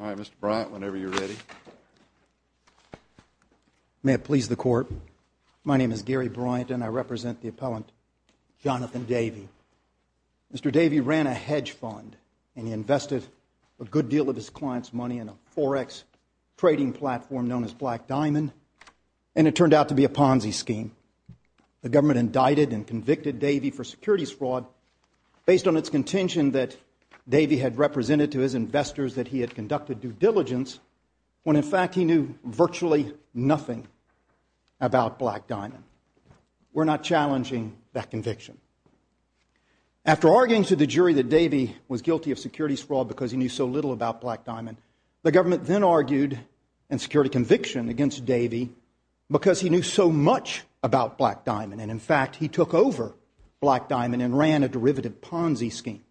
Alright, Mr. Bryant, whenever you're ready. May it please the court, my name is Gary Bryant and I represent the appellant Jonathan Davey. Mr. Davey ran a hedge fund and he invested a good deal of his client's money in a forex trading platform known as Black Diamond and it turned out to be a Ponzi scheme. The government indicted and convicted Davey for securities fraud based on its contention that Davey had represented to his investors that he had conducted due diligence when in fact he knew virtually nothing about Black Diamond. We're not challenging that conviction. After arguing to the jury that Davey was guilty of securities fraud because he knew so little about Black Diamond, the government then argued in security conviction against Davey because he knew so much about Black Diamond and in fact he took over Black Diamond and ran a derivative Ponzi scheme.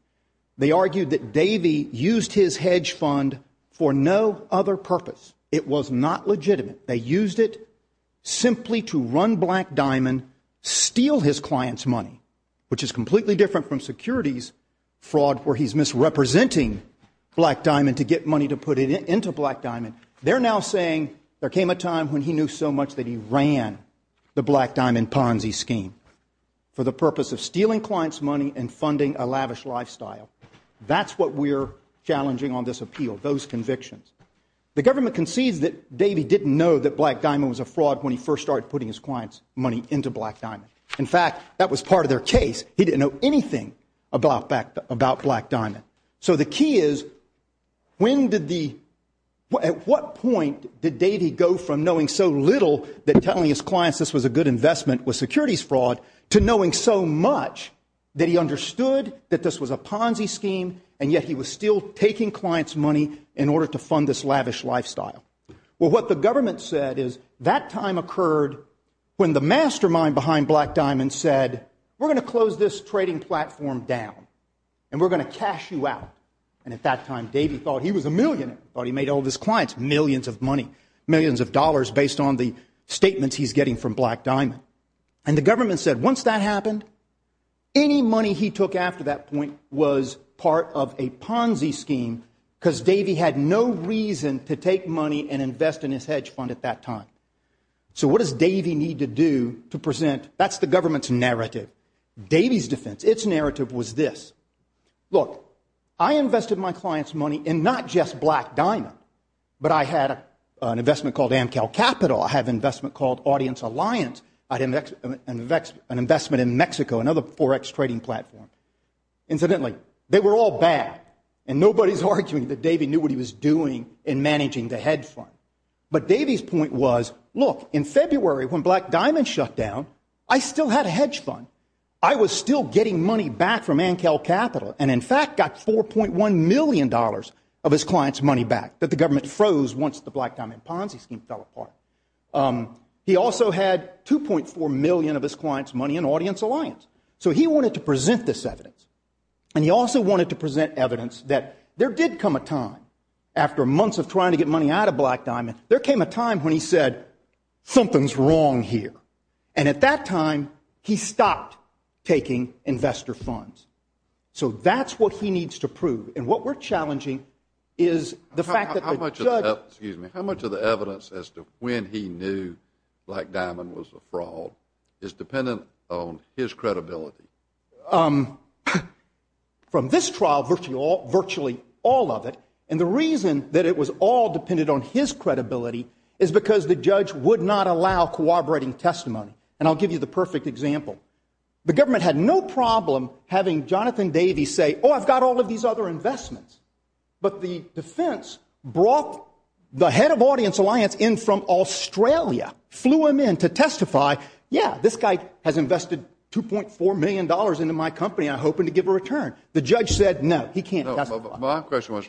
They argued that Davey used his hedge fund for no other purpose. It was not legitimate. They used it simply to run Black Diamond, steal his client's money, which is completely different from securities fraud where he's misrepresenting Black Diamond to get money to put it into Black Diamond. They're now saying there came a time when he knew so much that he ran the Black Diamond Ponzi scheme for the purpose of stealing clients' money and funding a lavish lifestyle. That's what we're challenging on this appeal, those convictions. The government concedes that Davey didn't know that Black Diamond was a fraud when he first started putting his client's money into Black Diamond. In fact, that was part of their case. He didn't know anything about Black Diamond. So the key is at what point did Davey go from knowing so little that telling his clients this was a good investment with securities fraud to knowing so much that he understood that this was a Ponzi scheme and yet he was still taking clients' money in order to fund this lavish lifestyle? Well, what the government said is that time occurred when the mastermind behind Black Diamond said, we're going to close this trading platform down and we're going to cash you out. And at that time, Davey thought he was a millionaire. He thought he made all statements he's getting from Black Diamond. And the government said once that happened, any money he took after that point was part of a Ponzi scheme because Davey had no reason to take money and invest in his hedge fund at that time. So what does Davey need to do to present? That's the government's narrative. Davey's defense, its narrative was this. Look, I invested my clients' money in not just Black Diamond, but I had an investment called Amcal Capital. I had an investment called Audience Alliance. I had an investment in Mexico, another forex trading platform. Incidentally, they were all bad. And nobody's arguing that Davey knew what he was doing in managing the hedge fund. But Davey's point was, look, in February when Black Diamond shut down, I still had a hedge fund. I was still getting money back from Amcal Capital and in fact got $4.1 million of his clients' money back that the government froze once the Black Diamond Ponzi scheme fell apart. He also had $2.4 million of his clients' money in Audience Alliance. So he wanted to present this evidence. And he also wanted to present evidence that there did come a time after months of trying to get money out of Black Diamond, there came a time when he said, something's wrong here. And at that time, he stopped taking investor funds. So that's what he needs to prove. And what we're challenging is the fact that the judge- How much of the evidence as to when he knew Black Diamond was a fraud is dependent on his credibility? From this trial, virtually all of it. And the reason that it was all dependent on his credibility is because the judge would not allow corroborating testimony. And I'll give you the perfect example. The government had no problem having Jonathan investments. But the defense brought the head of Audience Alliance in from Australia, flew him in to testify, yeah, this guy has invested $2.4 million into my company. I'm hoping to give a return. The judge said, no, he can't testify. No, but my question was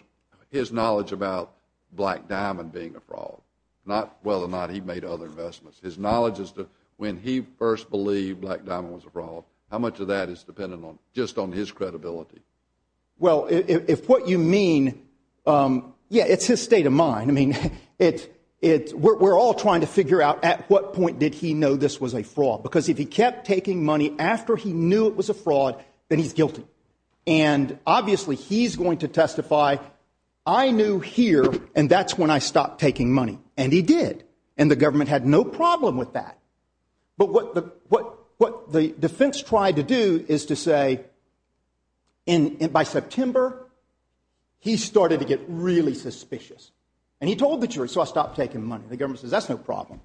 his knowledge about Black Diamond being a fraud, not whether or not he made other investments. His knowledge as to when he first believed Black Diamond was a fraud, how much of that is dependent just on his credibility? Well, if what you mean, yeah, it's his state of mind. I mean, we're all trying to figure out at what point did he know this was a fraud? Because if he kept taking money after he knew it was a fraud, then he's guilty. And obviously, he's going to testify, I knew here, and that's when I stopped taking money. And he did. And the government had no problem. What the defense tried to do is to say by September, he started to get really suspicious. And he told the jury, so I stopped taking money. The government says, that's no problem.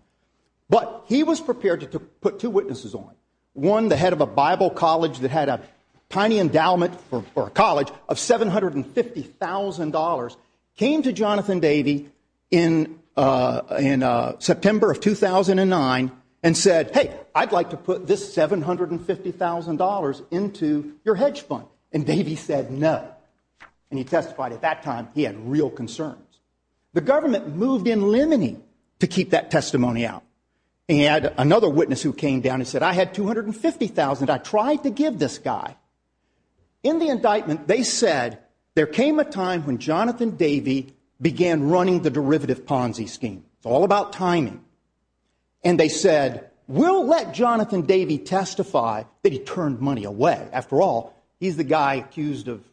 But he was prepared to put two witnesses on. One, the head of a Bible college that had a tiny endowment for a college of $750,000 came to Jonathan Davey in September of 2009 and said, hey, I'd like to put this $750,000 into your hedge fund. And Davey said, no. And he testified at that time, he had real concerns. The government moved in limiting to keep that testimony out. And he had another witness who came down and said, I had $250,000. I tried to give this guy. In the indictment, they said, there came a time when Jonathan Davey began running the derivative Ponzi scheme. It's all about timing. And they said, we'll let Jonathan Davey testify that he turned money away. After all, he's the guy accused of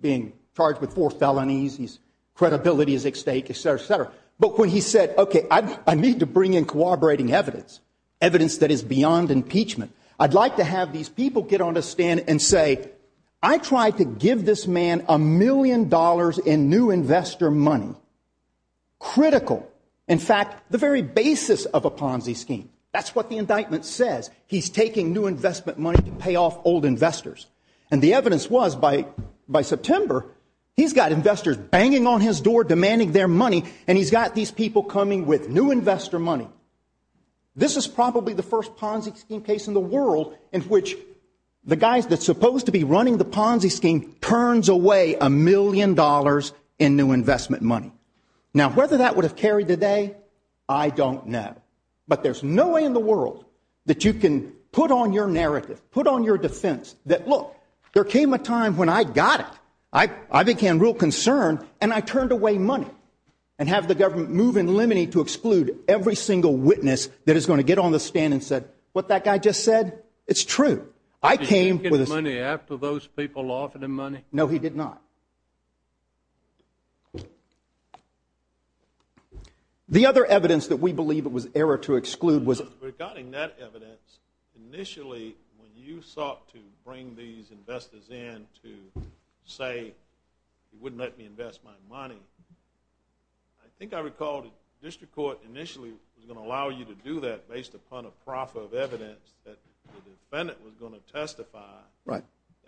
being charged with four felonies. His credibility is at stake, et cetera, et cetera. But when he said, OK, I need to bring in cooperating evidence, evidence that is beyond impeachment. I'd like to have these people get on a stand and say, I tried to give this man a million dollars in new investor money. Critical. In fact, the very basis of a Ponzi scheme. That's what the indictment says. He's taking new investment money to pay off old investors. And the evidence was by September, he's got investors banging on his door demanding their money. And he's got these people coming with new investor money. This is probably the first Ponzi scheme case in the world in which the guys that's supposed to be running the Ponzi scheme turns away a million dollars in new investment money. Now, whether that would have carried today, I don't know. But there's no way in the world that you can put on your narrative, put on your defense that, look, there came a time when I got it. I became real concerned and I turned away money and have the government move in limine to exclude every single witness that is going to get on the stand and what that guy just said. It's true. I came with money after those people offered him money. No, he did not. The other evidence that we believe it was error to exclude was regarding that evidence. Initially, when you sought to bring these investors in to say, he wouldn't let me invest my money. I think I recalled district court initially was going to allow you to do that based upon a profit of evidence that the defendant was going to testify. Right.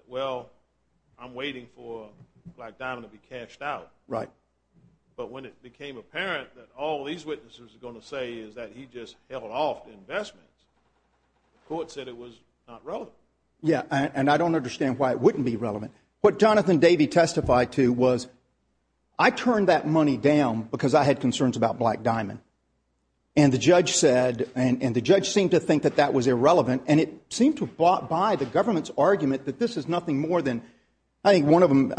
Well, I'm waiting for Black Diamond to be cashed out. Right. But when it became apparent that all these witnesses are going to say is that he just held off investments, the court said it was not relevant. Yeah. And I don't understand why it wouldn't be relevant. What Jonathan Davey testified to was I turned that money down because I had concerns about Black Diamond. And the judge said and the judge seemed to think that that was irrelevant. And it seemed to buy the government's argument that this is nothing more than I think one of them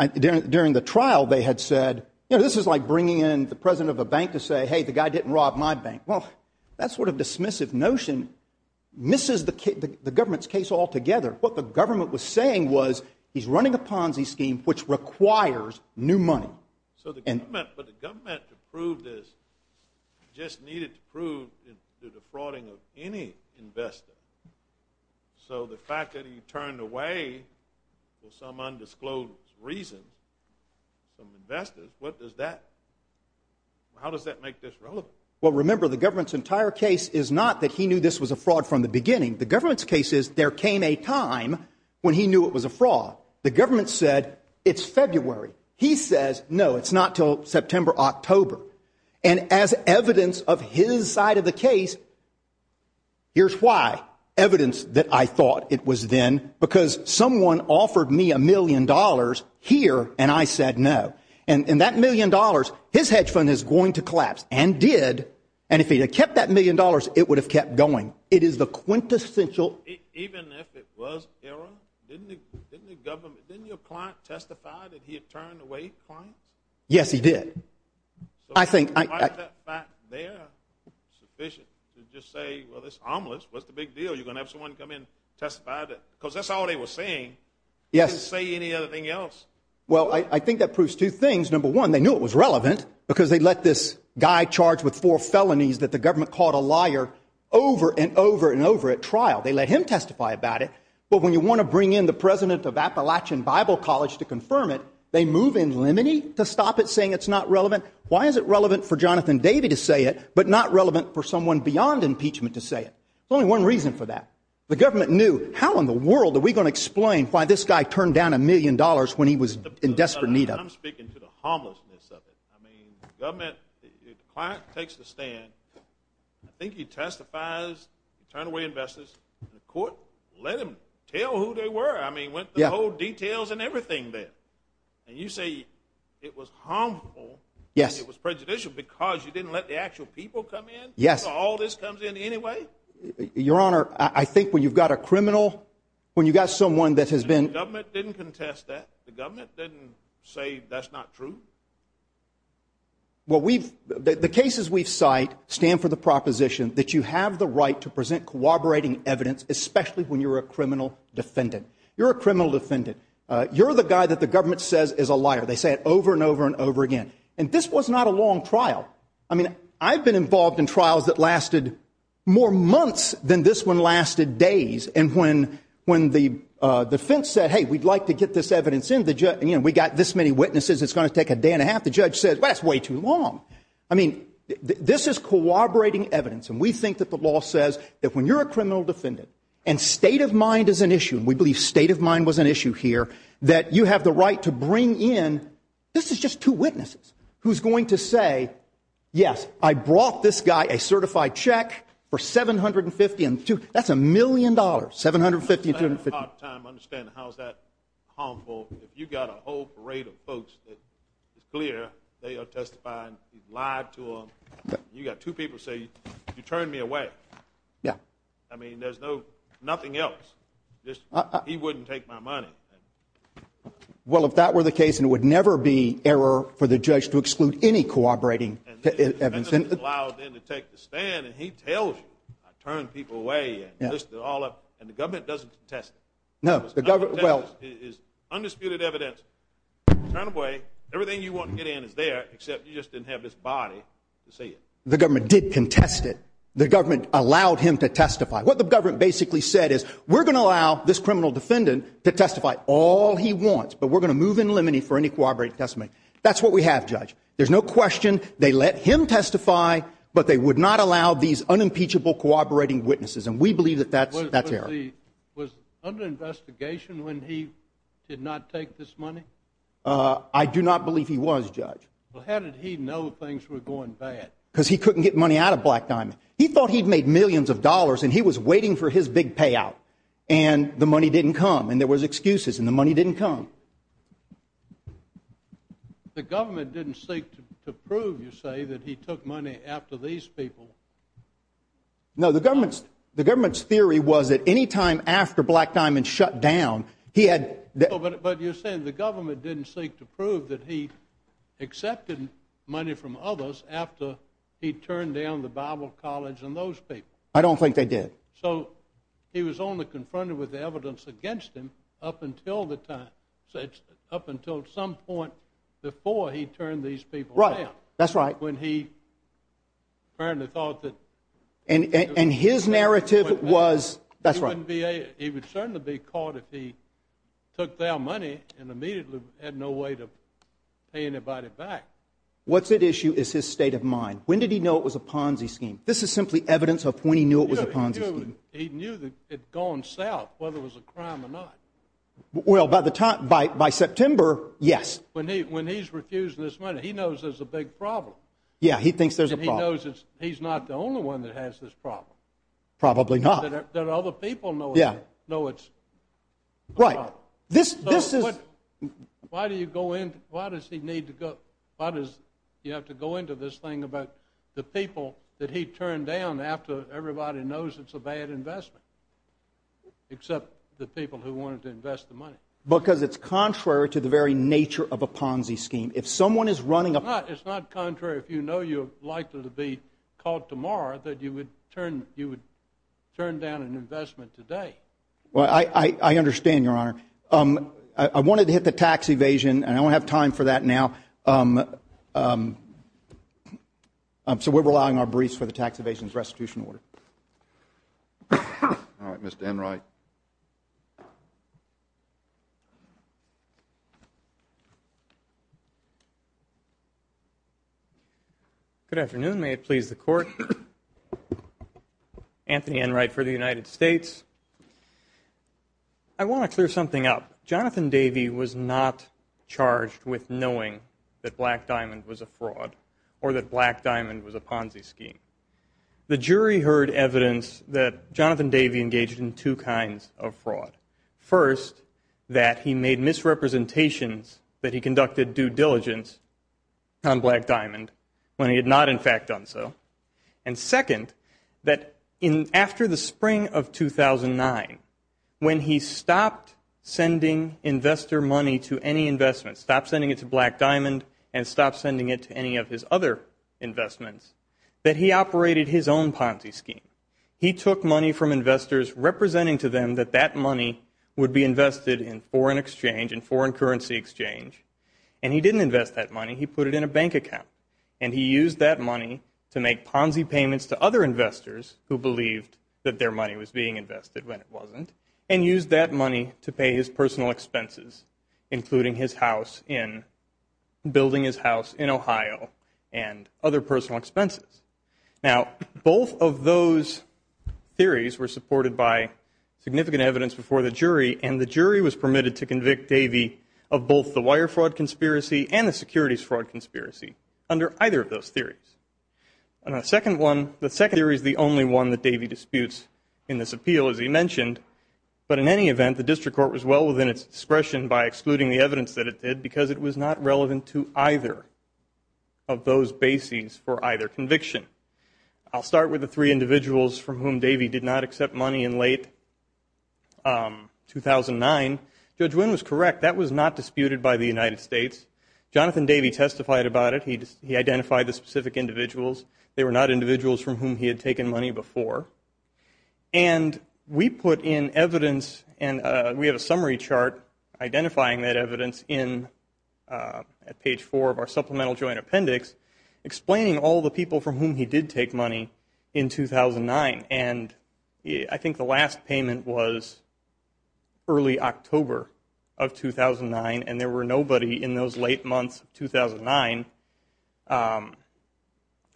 during the trial, they had said, you know, this is like bringing in the president of a bank to say, hey, the guy didn't rob my bank. Well, that sort of dismissive notion misses the government's case altogether. What the government was saying was he's running a Ponzi scheme, which requires new money. So the government but the government to prove this just needed to prove the defrauding of any investor. So the fact that he turned away for some undisclosed reason from investors, what does that how does that make this relevant? Well, remember, the government's entire case is not that he knew this was a fraud from the beginning. The government's case is there came a time when he knew it was a fraud. The government said it's February. He says, no, it's not till September, October. And as evidence of his side of the case. Here's why evidence that I thought it was then because someone offered me a million dollars here. And I said, no. And that million dollars, his hedge fund is going to collapse and did. And if he had kept that million dollars, it would have kept going. It is the quintessential. Even if it was error, didn't the government didn't your client testify that he had turned away? Yes, he did. I think they're sufficient to just say, well, it's harmless. What's the big deal? You're going to have someone come in, testify that because that's all they were saying. Yes. Say any other thing else. Well, I think that proves two things. Number one, they knew it was relevant because they let this guy charged with four felonies that the government called a liar over and over and over at trial. They let him testify about it. But when you want to bring in the president of Appalachian Bible College to confirm it, they move in limine to stop it saying it's not relevant. Why is it relevant for Jonathan David to say it, but not relevant for someone beyond impeachment to say it? There's only one reason for that. The government knew how in the world are we going to explain why this guy turned down a million dollars when he was in desperate need of it? I'm speaking to the homelessness of it. I mean, government client takes the stand. I think he testifies, turn away investors in the court, let him tell who they were. I mean, what the whole details and everything there. And you say it was harmful. Yes. It was prejudicial because you didn't let the actual people come in. Yes. All this comes in anyway. Your honor. I think when you've got a criminal, when you got someone that has been government didn't contest that the that's not true. Well, we've the cases we've cite stand for the proposition that you have the right to present corroborating evidence, especially when you're a criminal defendant, you're a criminal defendant. You're the guy that the government says is a liar. They say it over and over and over again. And this was not a long trial. I mean, I've been involved in trials that lasted more months than this one lasted days. And when when the defense said, hey, we'd like to get this evidence in the we got this many witnesses. It's going to take a day and a half. The judge said, well, that's way too long. I mean, this is corroborating evidence. And we think that the law says that when you're a criminal defendant and state of mind is an issue, we believe state of mind was an issue here that you have the right to bring in. This is just two witnesses who's going to say, yes, I brought this guy a certified check for seven hundred and fifty and two. That's a million dollars. Seven hundred fifty hundred. Understand how is that harmful if you've got a whole parade of folks that is clear they are testifying live to them. You got two people say you turn me away. Yeah. I mean, there's no nothing else. Just he wouldn't take my money. Well, if that were the case, and it would never be error for the judge to exclude any corroborating evidence and allow them to take the stand and he tells you, I turn people away and this all up and the government doesn't test. No, the government is undisputed evidence. Turn away. Everything you want to get in is there, except you just didn't have this body to see it. The government did contest it. The government allowed him to testify. What the government basically said is we're going to allow this criminal defendant to testify all he wants, but we're going to move in limine for any corroborate testimony. That's what we have, there's no question. They let him testify, but they would not allow these unimpeachable corroborating witnesses. And we believe that that was under investigation when he did not take this money. I do not believe he was judge. How did he know things were going bad? Because he couldn't get money out of Black Diamond. He thought he'd made millions of dollars and he was waiting for his big payout and the money didn't come and there was excuses and the money didn't come. The government didn't seek to prove, you say, that he took money after these people. No, the government's theory was that any time after Black Diamond shut down, he had... But you're saying the government didn't seek to prove that he accepted money from others after he turned down the Bible college and those people. I don't think they did. So he was only confronted with evidence against him up until the time, up until some point before he turned these people down. That's right. When he apparently thought that... And his narrative was... That's right. He would certainly be caught if he took their money and immediately had no way to pay anybody back. What's at issue is his state of mind. When did he know it was a Ponzi scheme? This is simply evidence of when he knew it was a Ponzi scheme. He knew that it had gone south, whether it was a crime or not. Well, by the time... By September, yes. When he's refusing this money, he knows there's a big problem. Yeah, he thinks there's a problem. He's not the only one that has this problem. Probably not. That other people know it's... Right. This is... Why do you go into... Why does he need to go... Why does he have to go into this thing about the people that he turned down after everybody knows it's a bad investment, except the people who wanted to invest the money? Because it's contrary to the very nature of a Ponzi scheme. If someone is running a... It's not contrary. If you know you're likely to be caught tomorrow, that you would turn down an investment today. Well, I understand, Your Honor. I wanted to hit the tax evasion and I don't have time for that now. So we're allowing our briefs for the tax evasion's restitution order. All right, Mr. Enright. Good afternoon. May it please the Court. Anthony Enright for the United States. I want to clear something up. Jonathan Davey was not charged with knowing that Black Diamond was a fraud or that Black Diamond was a Ponzi scheme. The jury heard evidence that Jonathan Davey engaged in two kinds of fraud. First, that he made misrepresentations that he conducted due diligence on Black Diamond when he had not, in fact, done so. And second, that after the spring of 2009, when he stopped sending investor money to any investment, stopped sending it to Black Diamond and stopped sending it to any of his other investments, that he operated his own Ponzi scheme. He took money from investors representing to them that that money would be invested in foreign exchange and foreign currency exchange. And he didn't invest that money. He put it in a bank account. And he used that money to make Ponzi payments to other investors who believed that their money was being invested when it wasn't and used that money to pay his personal expenses, including building his house in Ohio and other personal expenses. Now, both of those theories were supported by significant evidence before the jury. And the jury was permitted to convict Davey of both the wire fraud conspiracy and the securities fraud conspiracy under either of those theories. And the second theory is the only one that Davey disputes in this appeal, as he mentioned. But in any event, the district court was well within its discretion by excluding the evidence that it did because it was not relevant to either of those bases for either conviction. I'll start with the three individuals from whom Davey did not accept money in late 2009. Judge Wynn was correct. That was not disputed by the United States. Jonathan Davey testified about it. He identified the specific individuals. They were not individuals from whom he had taken money before. And we put in evidence. And we have a summary chart identifying that evidence at page four of our supplemental joint appendix, explaining all the people from whom he did take money in 2009. And I think the last payment was early October of 2009. And there were nobody in those late months of 2009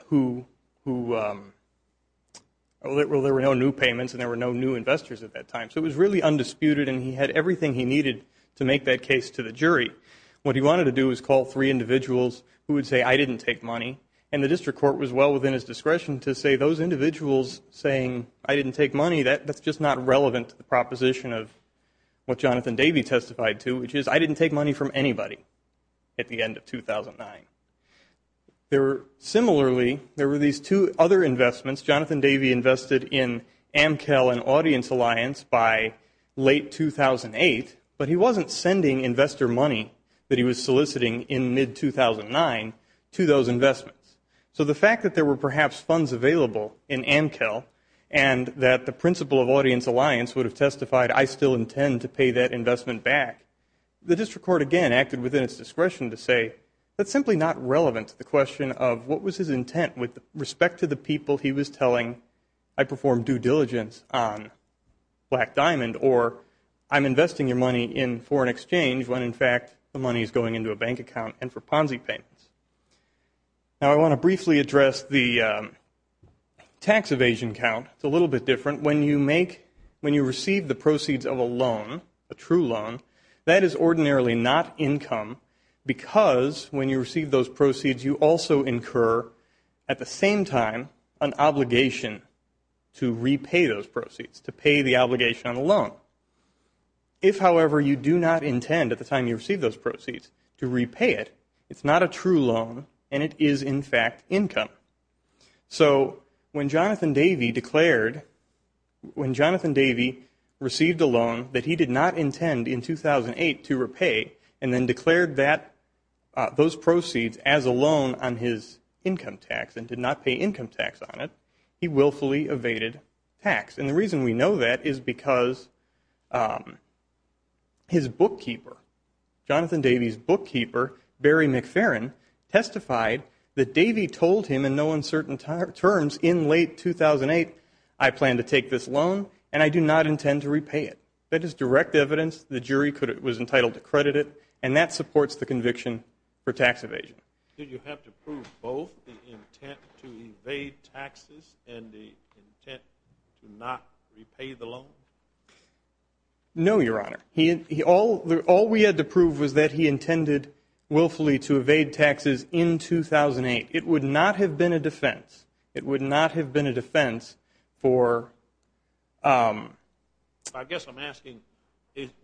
who, well, there were no new payments. And there were no new investors at that time. So it was really undisputed. And he had everything he needed to make that case to the jury. What he wanted to do is call three individuals who would say, I didn't take money. And the district court was well within his discretion to say, those individuals saying, I didn't take money, that's just not relevant to the proposition of what Jonathan Davey testified to, which is, I didn't take money from anybody at the end of 2009. Similarly, there were these two other investments. Jonathan Davey invested in AmCal and Audience Alliance by late 2008. But he wasn't sending investor money that he was soliciting in mid-2009 to those investments. So the fact that there were perhaps funds available in AmCal and that the principal of Audience Alliance would have testified, I still intend to pay that investment back, the district court, again, acted within its discretion to say, that's simply not relevant to the question of what was his intent with respect to the people he was telling, I perform due diligence on Black Diamond, or I'm investing your money in foreign exchange when, in fact, the money is going into a bank account and for Ponzi payments. Now, I want to briefly address the tax evasion count. It's a little bit different. When you make, when you receive the proceeds of a loan, a true loan, that is ordinarily not income because when you receive those proceeds, you also incur at the same time an obligation to repay those proceeds, to pay the obligation on a loan. If, however, you do not intend at the time you receive those proceeds to repay it, it's not a true loan and it is, in fact, income. So when Jonathan Davey declared, when Jonathan Davey received a loan that he did not intend in 2008 to repay, and then declared that, those proceeds as a loan on his income tax and did not pay income tax on it, he willfully evaded tax. And the reason we know that is because his bookkeeper, Jonathan Davey's bookkeeper, Barry McFerrin, testified that Davey told him in no uncertain terms in late 2008, I plan to take this loan and I do not intend to repay it. That is direct evidence. The jury was entitled to credit it. And that supports the conviction for tax evasion. Did you have to prove both the intent to evade taxes and the intent to not repay the loan? No, Your Honor. All we had to prove was that he intended willfully to evade taxes in 2008. It would not have been a defense. It would not have been a defense for... I guess I'm asking,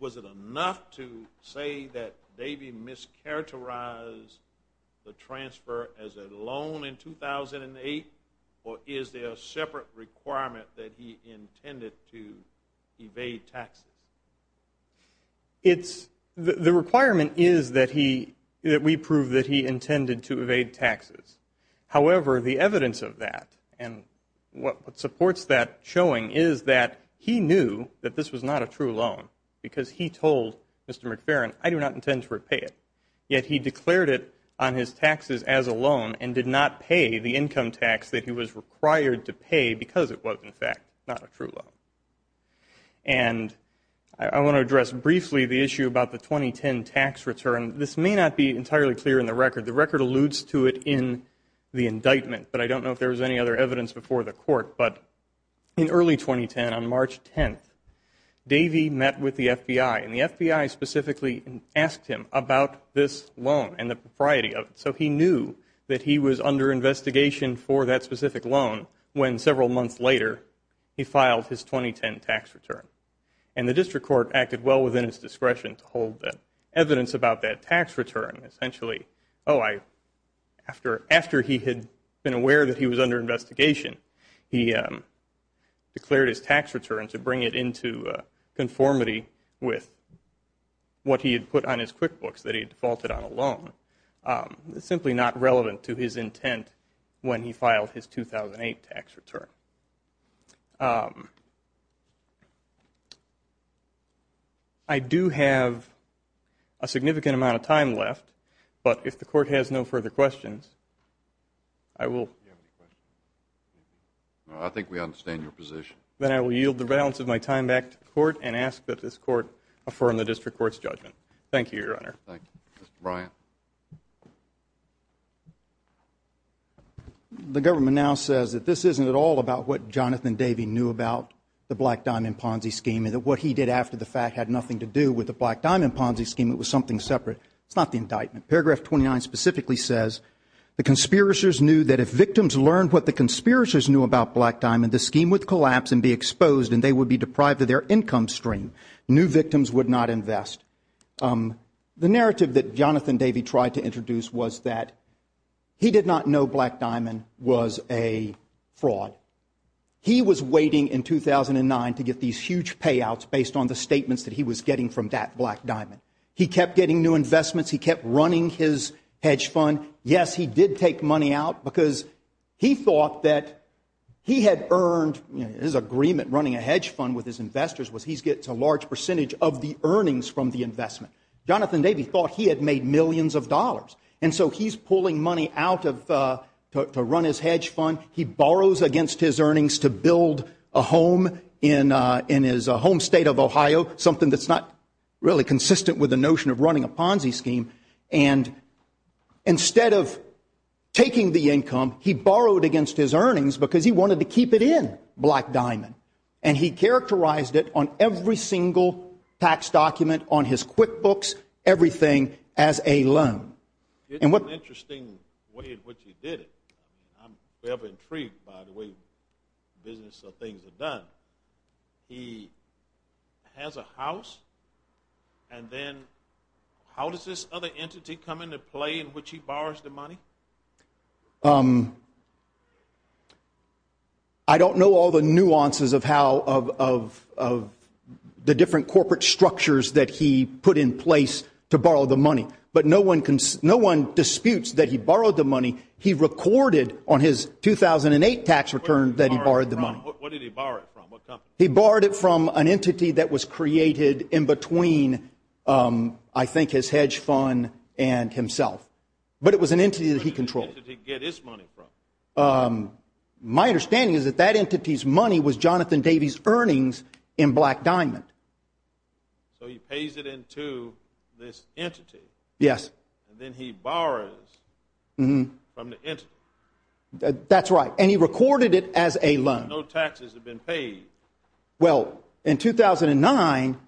was it enough to say that Davey mischaracterized the transfer as a loan in 2008, or is there a separate requirement that he intended to evade taxes? It's... the requirement is that we prove that he intended to evade taxes. However, the evidence of that and what supports that showing is that he knew that this was not a true loan because he told Mr. McFerrin, I do not intend to repay it. Yet he declared it on his taxes as a loan and did not pay the income tax that he was required to pay because it was, in fact, not a true loan. And I want to address briefly the issue about the 2010 tax return. This may not be entirely clear in the record. The record alludes to it in the indictment, but I don't know if there was any other evidence before the court. But in early 2010, on March 10th, Davey met with the FBI, and the FBI specifically asked him about this loan and the propriety of it. So he knew that he was under investigation for that specific loan when several months later, he filed his 2010 tax return. And the district court acted well within its discretion to hold evidence about that tax return. Essentially, oh, after he had been aware that he was under investigation, he declared his tax return to bring it into conformity with what he had put on his QuickBooks that he defaulted on a loan. Simply not relevant to his intent when he filed his 2008 tax return. I do have a significant amount of time left, but if the court has no further questions, I will... Do you have any questions? No, I think we understand your position. Then I will yield the balance of my time back to the court and ask that this court affirm the district court's judgment. Thank you, Your Honor. Thank you. Mr. Bryant. The government now says that this isn't at all about what Jonathan Davey knew about the Black Diamond Ponzi scheme, and that what he did after the fact had nothing to do with the Black Diamond Ponzi scheme. It was something separate. It's not the indictment. Paragraph 29 specifically says, the conspirators knew that if victims learned what the conspirators knew about Black Diamond, the scheme would collapse and be exposed, and they would be deprived of their income stream. New victims would not invest. The narrative that Jonathan Davey tried to introduce was that he did not know Black Diamond was a fraud. He was waiting in 2009 to get these huge payouts based on the statements that he was getting from Black Diamond. He kept getting new investments. He kept running his hedge fund. Yes, he did take money out because he thought that he had earned... His agreement running a hedge fund with his investors was he gets a large percentage of the earnings from the investment. Jonathan Davey thought he had made millions of dollars, and so he's pulling money out to run his hedge fund. He borrows against his earnings to build a home in his home state of Ohio, something that's not really consistent with the notion of running a Ponzi scheme. And instead of taking the income, he borrowed against his earnings because he wanted to keep it in Black Diamond, and he characterized it on every single tax document, on his QuickBooks, everything as a loan. It's an interesting way in which he did it. I'm very intrigued by the way business or things are done. He has a house, and then how does this other entity come into play in which he borrows the money? I don't know all the nuances of how of the different corporate structures that he put in place to borrow the money, but no one disputes that he borrowed the money. He recorded on his 2008 tax return that he borrowed the money. What did he borrow it from? What company? He borrowed it from an entity that was created in between, I think, his hedge fund and himself. But it was an entity that was created that he controlled. My understanding is that that entity's money was Jonathan Davies' earnings in Black Diamond. So he pays it into this entity. Yes. And then he borrows from the entity. That's right. And he recorded it as a loan. No taxes have been paid. Well, in 2009,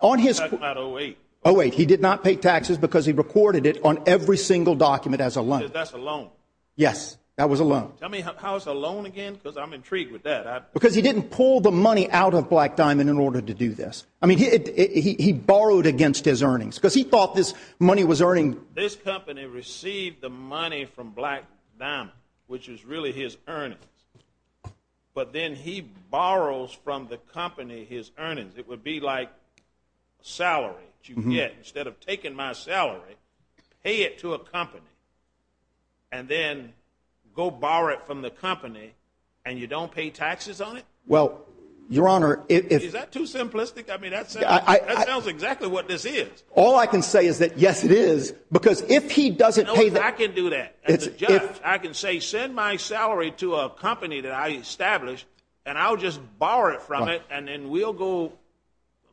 on his... That's not 08. 08. He did not pay taxes because he recorded it on every single document as a loan. That's a loan. Yes, that was a loan. Tell me how it's a loan again because I'm intrigued with that. Because he didn't pull the money out of Black Diamond in order to do this. I mean, he borrowed against his earnings because he thought this money was earning... This company received the money from Black Diamond, which is really his earnings. But then he borrows from the company his earnings. It would be like a salary that you get. Instead of taking my salary, pay it to a company. And then go borrow it from the company. And you don't pay taxes on it? Well, Your Honor, if... Is that too simplistic? I mean, that sounds exactly what this is. All I can say is that, yes, it is. Because if he doesn't pay... I can do that as a judge. I can say, send my salary to a company that I established. And I'll just borrow it from it. And then we'll go...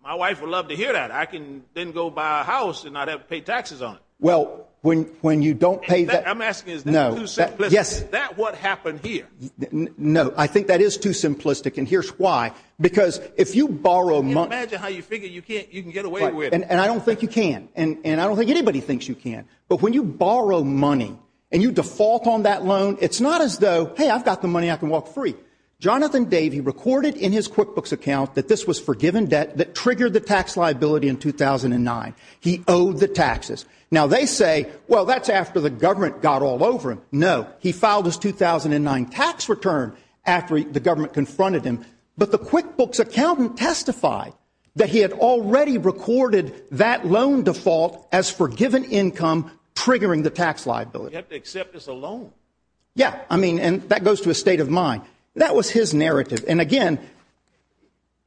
My wife would love to hear that. I can then go buy a house and not have to pay taxes on it. Well, when you don't pay that... I'm asking, is that too simplistic? Is that what happened here? No, I think that is too simplistic. And here's why. Because if you borrow money... Can you imagine how you figure you can get away with it? And I don't think you can. And I don't think anybody thinks you can. But when you borrow money and you default on that loan, it's not as though, hey, I've got the money, I can walk free. Jonathan Davey recorded in his QuickBooks account that this was forgiven debt that triggered the tax liability in 2009. He owed the taxes. Now, they say, well, that's after the government got all over him. No, he filed his 2009 tax return after the government confronted him. But the QuickBooks accountant testified that he had already recorded that loan default as forgiven income triggering the tax liability. You have to accept this alone. Yeah, I mean, and that goes to a state of mind. That was his narrative. And again,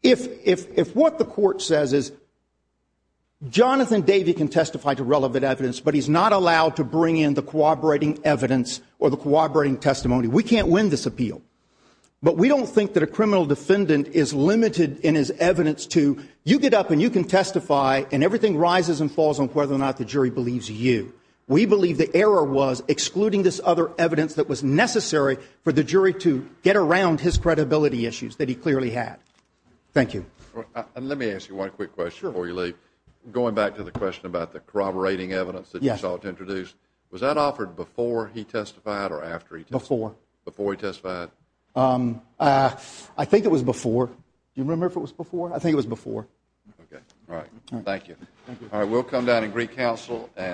if what the court says is, Jonathan Davey can testify to relevant evidence, but he's not allowed to bring in the corroborating evidence or the corroborating testimony, we can't win this appeal. But we don't think that a criminal defendant is limited in his evidence to, you get up and you can testify and everything rises and falls on whether or not the jury believes you. We believe the error was excluding this other evidence that was necessary for the jury to get around his credibility issues that he clearly had. Thank you. And let me ask you one quick question before you leave. Going back to the question about the corroborating evidence that you sought to introduce, was that offered before he testified or after he testified? Before. Before he testified? I think it was before. Do you remember if it was before? I think it was before. Okay. All right. Thank you. All right. We'll come down in Greek Council and.